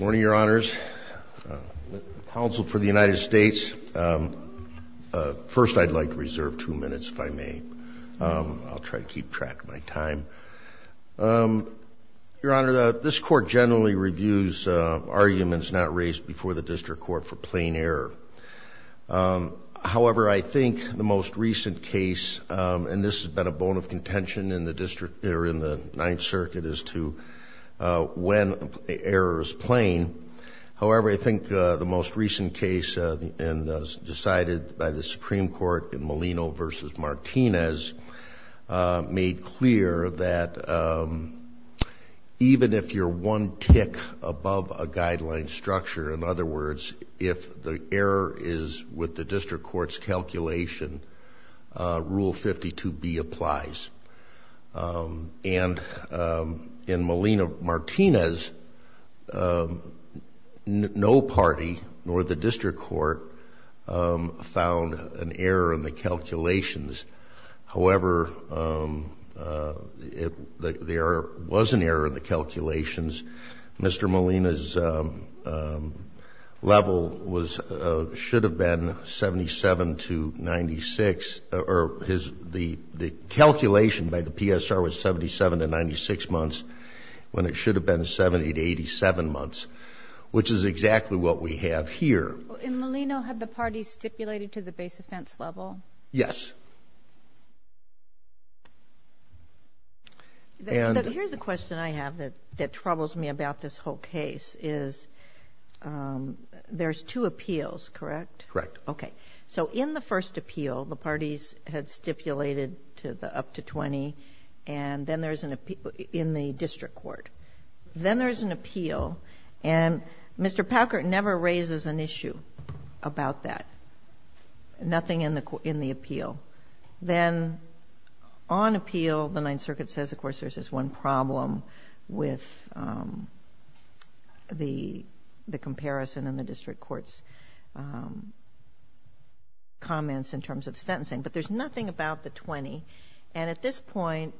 morning your honors counsel for the United States first I'd like to reserve two minutes if I may I'll try to keep track of my time your honor that this court generally reviews arguments not raised before the district court for plain error however I think the most recent case and this has been a bone of error is plain however I think the most recent case and decided by the Supreme Court in Molina versus Martinez made clear that even if you're one tick above a guideline structure in other words if the error is with the district courts calculation rule 52 B applies and in Molina Martinez no party nor the district court found an error in the calculations however if there was an error in the calculation by the PSR was 77 to 96 months when it should have been 70 to 87 months which is exactly what we have here in Molina had the party stipulated to the base offense level yes here's a question I have that that troubles me about this whole case is there's two appeals correct correct okay so in the case that in the first appeal the parties had stipulated to the up to 20 and then there's an appeal in the district court then there's an appeal and Mr. Packard never raises an issue about that nothing in the court in the appeal then on appeal the Ninth Circuit says of course there's this one problem with the the comparison in the district courts comments in terms of sentencing but there's nothing about the 20 and at this point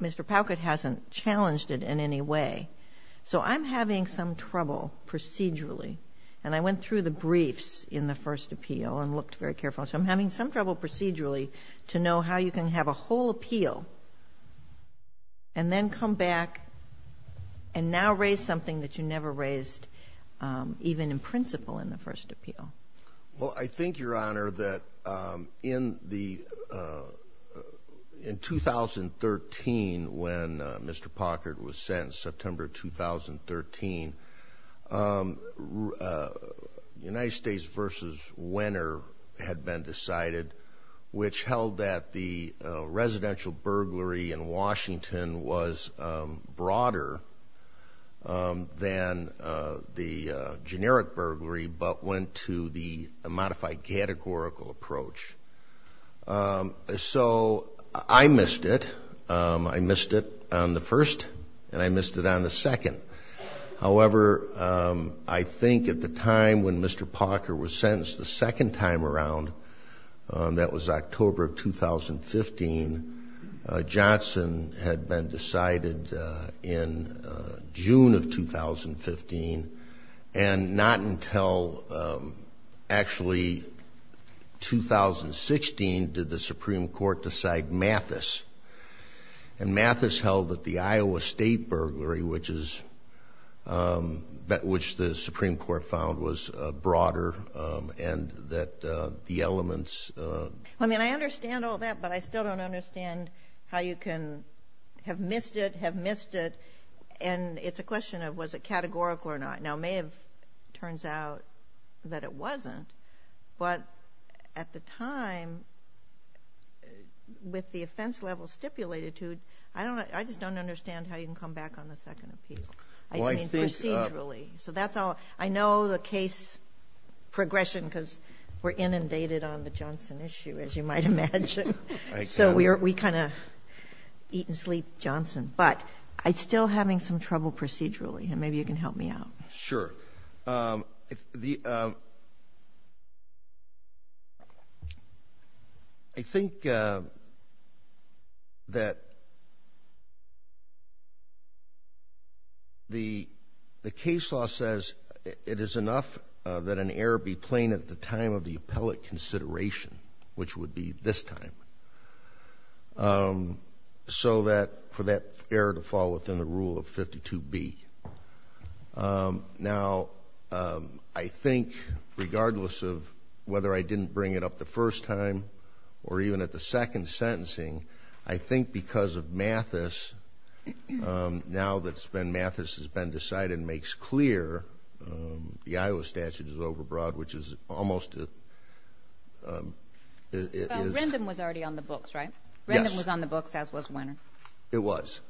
Mr. Packard hasn't challenged it in any way so I'm having some trouble procedurally and I went through the briefs in the first appeal and looked very careful so I'm having some trouble procedurally to know how you can have a whole appeal and then come back and now raise something that you never raised even in principle in the first appeal well I think your honor that in the in 2013 when Mr. Packard was sentenced September 2013 United States versus winner had been decided which held that the presidential burglary in Washington was broader than the generic burglary but went to the modified categorical approach so I missed it I missed it on the first and I missed it on the second however I think at the time when Mr. Packard was sentenced the second time around that was October 2015 Johnson had been decided in June of 2015 and not until actually 2016 did the Supreme Court decide Mathis and Mathis held that the Iowa State burglary which is that which the Supreme Court found was broader and that the elements I mean I understand all that but I still don't understand how you can have missed it have missed it and it's a question of was a categorical or not now may have turns out that it wasn't but at the time with the offense level stipulated to I don't I just don't understand how you can come back on the second appeal I mean procedurally so that's all I know the case progression because we're inundated on the Johnson issue as you might imagine so we're we kind of eat and sleep Johnson but I still having some trouble procedurally and maybe you can help me out sure the I think that the the case law says it is enough that an error be plain at the time of the appellate consideration which would be this time so that for that error to fall within the rule of 52 B now I think regardless of whether I didn't bring it up the first time or even at the second sentencing I think because of Mathis now that's been Mathis has been decided makes clear the Iowa statute is overbroad which is almost it was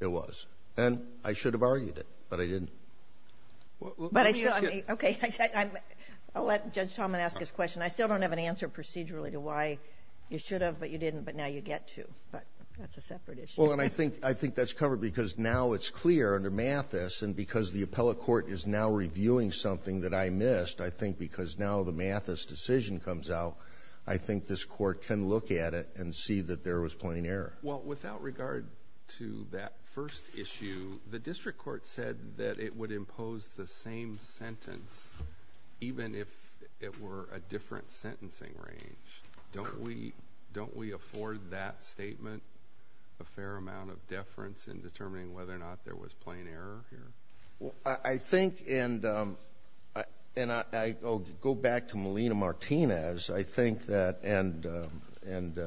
it was and I should have argued it but I didn't I still don't have an answer procedurally to why you should have but you didn't but now you get to but that's a separate issue and I think I think that's covered because now it's clear under Mathis and because the now the Mathis decision comes out I think this court can look at it and see that there was plain error well without regard to that first issue the district court said that it would impose the same sentence even if it were a different sentencing range don't we don't we afford that statement a fair amount of deference in determining whether or not there was plain error I think and I go back to Molina Martinez I think that and and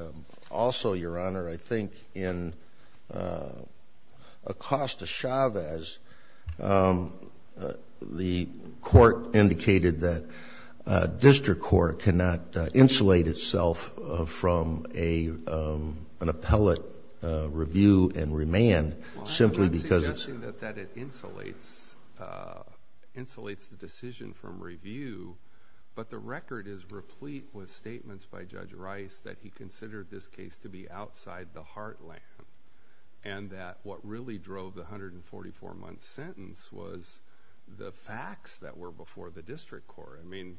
also your honor I think in Acosta Chavez the court indicated that district court cannot insulate itself from a an appellate review and remand simply because it insulates insulates the decision from review but the record is replete with statements by Judge Rice that he considered this case to be outside the heartland and that what really drove the hundred and forty four month sentence was the facts that were before the district court I mean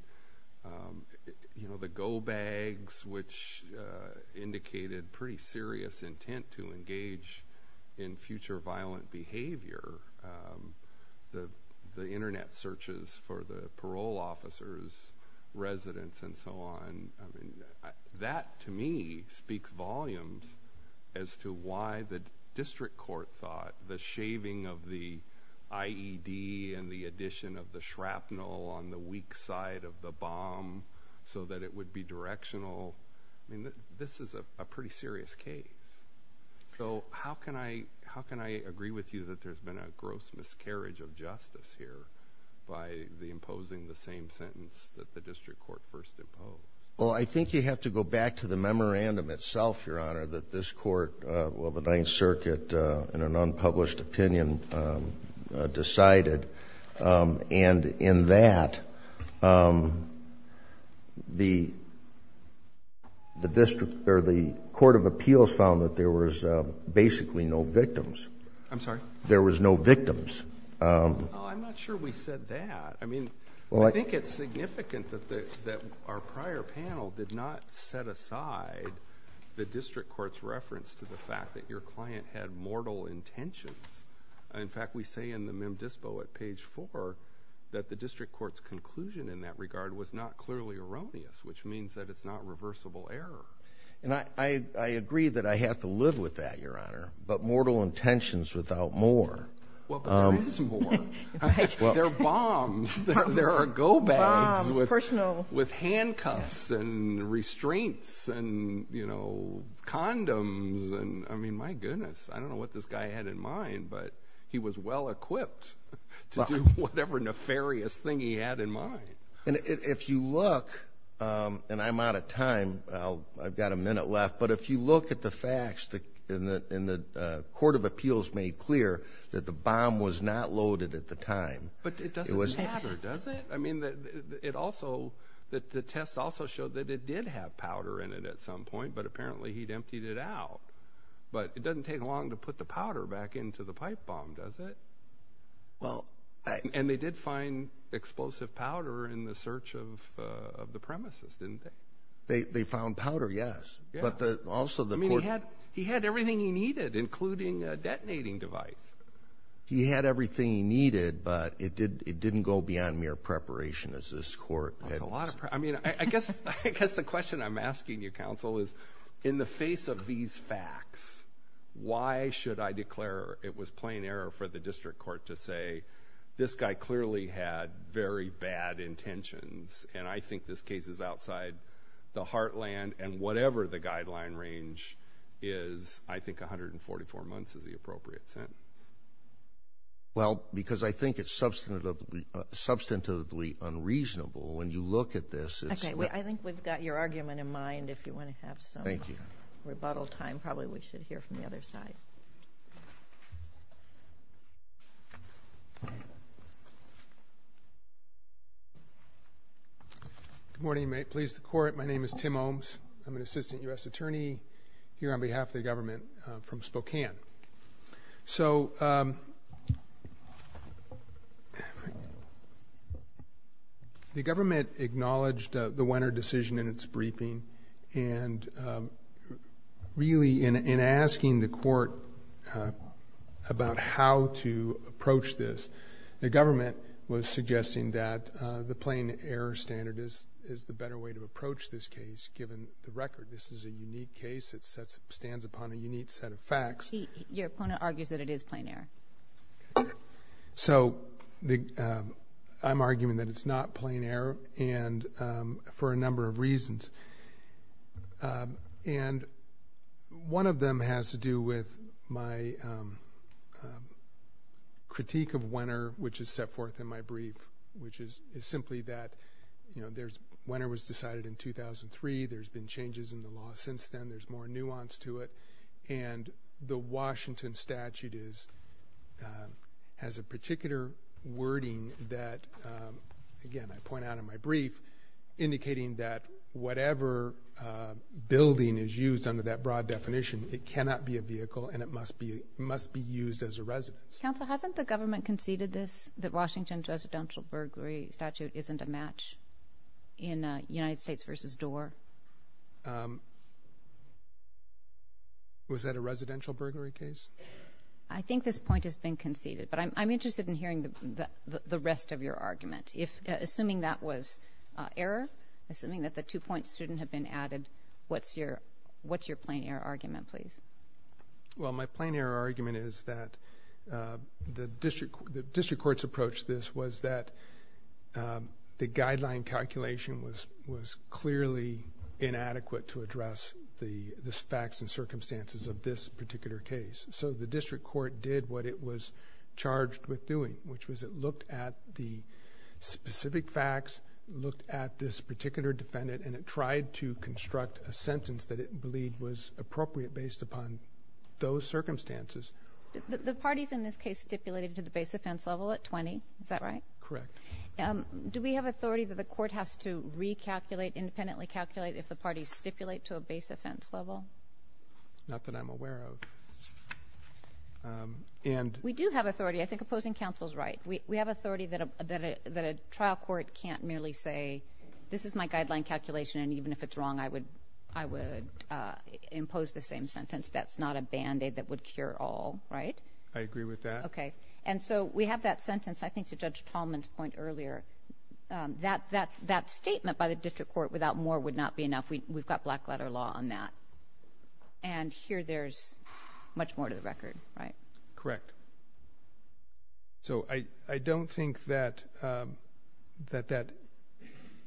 you know the go bags which indicated pretty serious intent to engage in future violent behavior the the internet searches for the parole officers residents and so on that to me speaks volumes as to why the district court thought the shaving of the IED and the addition of the shrapnel on the weak side of the bomb so that it would be directional I mean this is a pretty serious case so how can I how can I agree with you that there's been a gross miscarriage of justice here by the imposing the same sentence that the district court first imposed well I think you have to go back to the memorandum itself your honor that this court well the Ninth Circuit in an unpublished opinion decided and in that the the district or the Court of Appeals found that there was basically no victims I'm sorry there was no victims I'm not sure we said that I mean well I think it's significant that our prior panel did not set aside the district courts reference to the fact that your client had mortal intentions in fact we say in the mem dispo at page 4 that the district courts conclusion in that regard was not clearly erroneous which means that it's not reversible error and I I agree that I have to live with that your honor but mortal intentions without more bombs there are go back with personal with handcuffs and restraints and you know condoms and I mean my goodness I don't know what this guy had in mind but he was well equipped to do whatever nefarious thing he had in mind and if you look and I'm out of time I've got a minute left but if you look at the facts that in the in the Court of Appeals made clear that the bomb was not loaded at the time but it was I mean that it also that the test also showed that it did have powder in it at some point but apparently he'd emptied it out but it doesn't take long to put the powder back into the pipe bomb does it well and they did find explosive powder in the search of the premises didn't they they found powder yes but the also the me had he had everything he needed including a detonating device he had everything he needed but it did it didn't go beyond mere preparation as this court had a lot of I mean I guess I guess the question I'm asking you counsel is in the face of these facts why should I declare it was plain error for the district court to say this guy clearly had very bad intentions and I think this case is outside the heartland and whatever the guideline range is I think 144 months is the appropriate time well because I think it's substantive substantively unreasonable when you look at this I think we've got your argument in mind if you want to have some thank you rebuttal time probably we should hear from the other side good morning may it please the court my name is so the government acknowledged the winner decision in its briefing and really in asking the court about how to approach this the government was suggesting that the plain error standard is is the better way to approach this case given the record this is a unique case it sets stands upon a unique set of facts your opponent argues that it is plain air so the I'm arguing that it's not plain air and for a number of reasons and one of them has to do with my critique of winter which is set forth in my brief which is simply that you know there's winter was then there's more nuance to it and the Washington statute is has a particular wording that again I point out in my brief indicating that whatever building is used under that broad definition it cannot be a vehicle and it must be must be used as a residence council hasn't the government conceded this that Washington's residential burglary statute isn't a match in United States versus door was that a residential burglary case I think this point has been conceded but I'm interested in hearing the rest of your argument if assuming that was error assuming that the two points shouldn't have been added what's your what's your plain air argument please well my plain air argument is that the district the district courts approach this was that the calculation was clearly inadequate to address the facts and circumstances of this particular case so the district court did what it was charged with doing which was it looked at the specific facts looked at this particular defendant and it tried to construct a sentence that it believed was appropriate based upon those circumstances the parties in this case stipulated to the base level at 20 correct do we have authority that the court has to recalculate independently calculate if the party stipulate to a base offense level not that I'm aware of and we do have authority I think opposing counsels right we have authority that a trial court can't merely say this is my guideline calculation and even if it's wrong I would I would impose the sentence that's not a band-aid that would cure all right I agree with that okay and so we have that sentence I think to judge Tallman's point earlier that that that statement by the district court without more would not be enough we've got black letter law on that and here there's much more to the record right correct so I I don't think that that that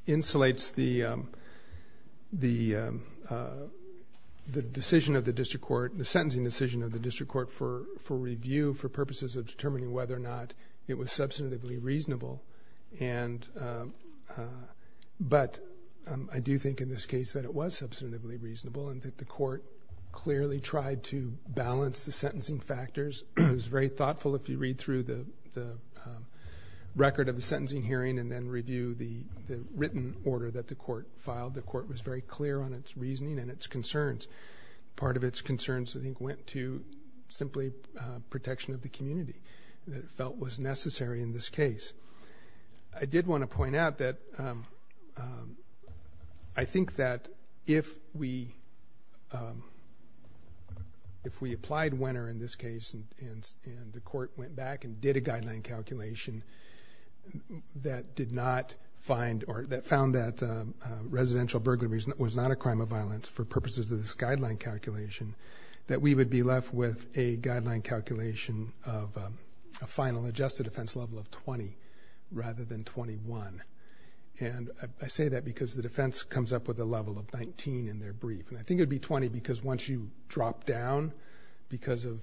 insulates the the the decision of the district court the sentencing decision of the district court for for review for purposes of determining whether or not it was substantively reasonable and but I do think in this case that it was substantively reasonable and that the court clearly tried to balance the sentencing factors it was very thoughtful if you read through the record of the sentencing hearing and then review the written order that the court filed the court was very clear on its reasoning and its concerns part of its concerns I think went to simply protection of the community that it felt was necessary in this case I did want to point out that I think that if we if we applied winner in this case and the court went back and did a guideline calculation that did not find or that that residential burglaries was not a crime of violence for purposes of this guideline calculation that we would be left with a guideline calculation of a final adjusted offense level of 20 rather than 21 and I say that because the defense comes up with a level of 19 in their brief and I think it'd be 20 because once you drop down because of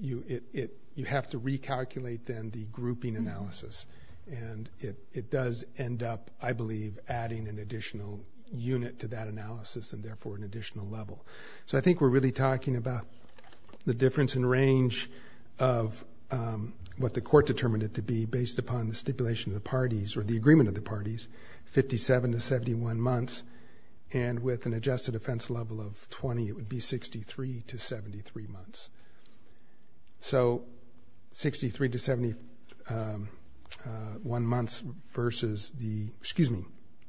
you it you have to recalculate then the grouping analysis and it it does end up I believe adding an additional unit to that analysis and therefore an additional level so I think we're really talking about the difference in range of what the court determined it to be based upon the stipulation of the parties or the agreement of the parties 57 to 71 months and with an adjusted offense level of 20 it would be 63 to 73 months so 63 to 71 months versus the excuse me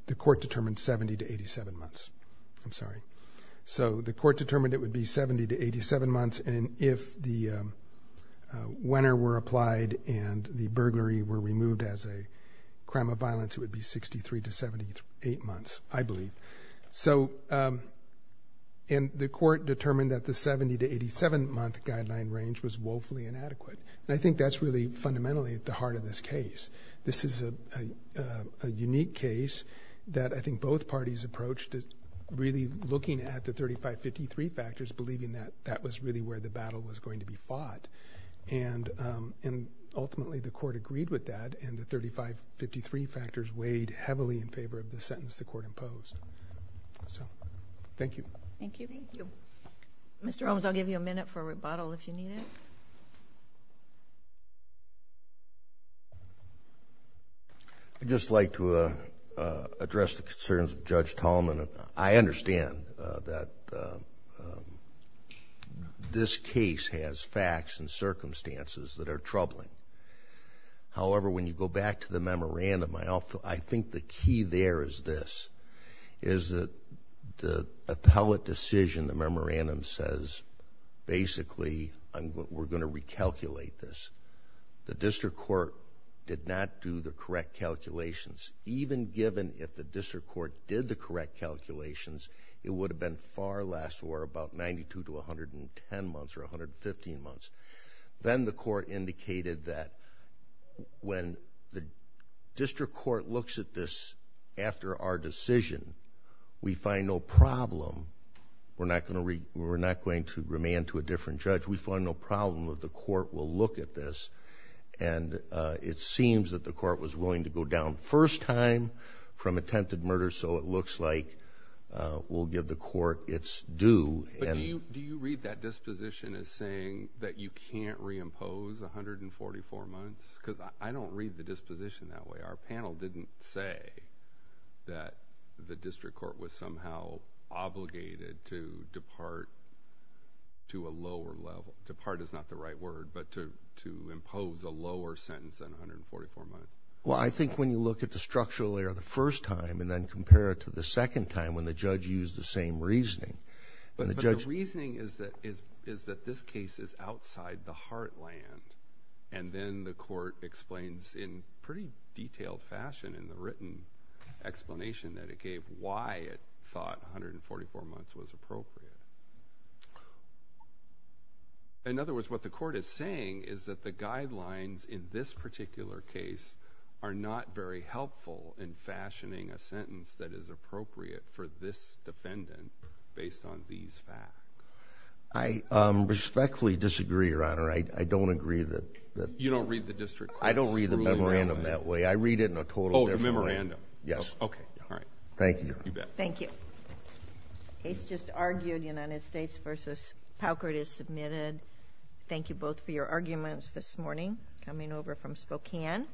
the court determined 70 to 87 months I'm sorry so the court determined it would be 70 to 87 months and if the winner were applied and the burglary were removed as a crime of violence it would be 63 to 78 months I believe so in the court determined that the 70 to 87 month guideline range was woefully inadequate and I think that's really fundamentally at the heart of this case this is a unique case that I think both parties approached it really looking at the 3553 factors believing that that was really where the battle was going to be fought and and ultimately the court agreed with that and the 3553 factors weighed heavily in favor of the sentence the court imposed so thank you thank you Mr. Holmes I'll give you a minute for a rebuttal if you need it I just like to address the concerns of Judge Tolman I understand that this case has facts and circumstances that are troubling however when you go back to the memorandum I also I think the key there is this is that the appellate decision the memorandum says basically I'm we're going to recalculate this the district court did not do the correct calculations even given if the district court did the correct calculations it would have been far less or about 92 to 110 months or 115 months then the court indicated that when the district court looks at this after our decision we find no problem we're not going to read we're not going to remand to a different judge we find no problem of the court will look at this and it seems that the court was willing to go down first time from attempted murder so it looks like we'll give the court its due and you do you read that disposition as saying that you can't reimpose 144 months because I don't read the disposition that way our panel didn't say that the district court was somehow obligated to depart to a lower level to part is not the right word but to to impose a lower sentence than 144 months well I think when you look at the structural layer the first time and then compare it to the second time when the judge used the same reasoning but the reasoning is that is is that this case is outside the heartland and then the court explains in pretty detailed fashion in the written explanation that it gave why it thought 144 months was appropriate in other words what the court is saying is that the guidelines in this particular case are not very helpful in fashioning a sentence that is appropriate for this defendant based on these facts I respectfully disagree your honor I don't agree that that you don't read the district I don't read the memorandum that way I read it in a total memorandum yes okay all right thank you thank you he's just argued United States versus Paukert is submitted thank you both for your arguments this morning coming over from Spokane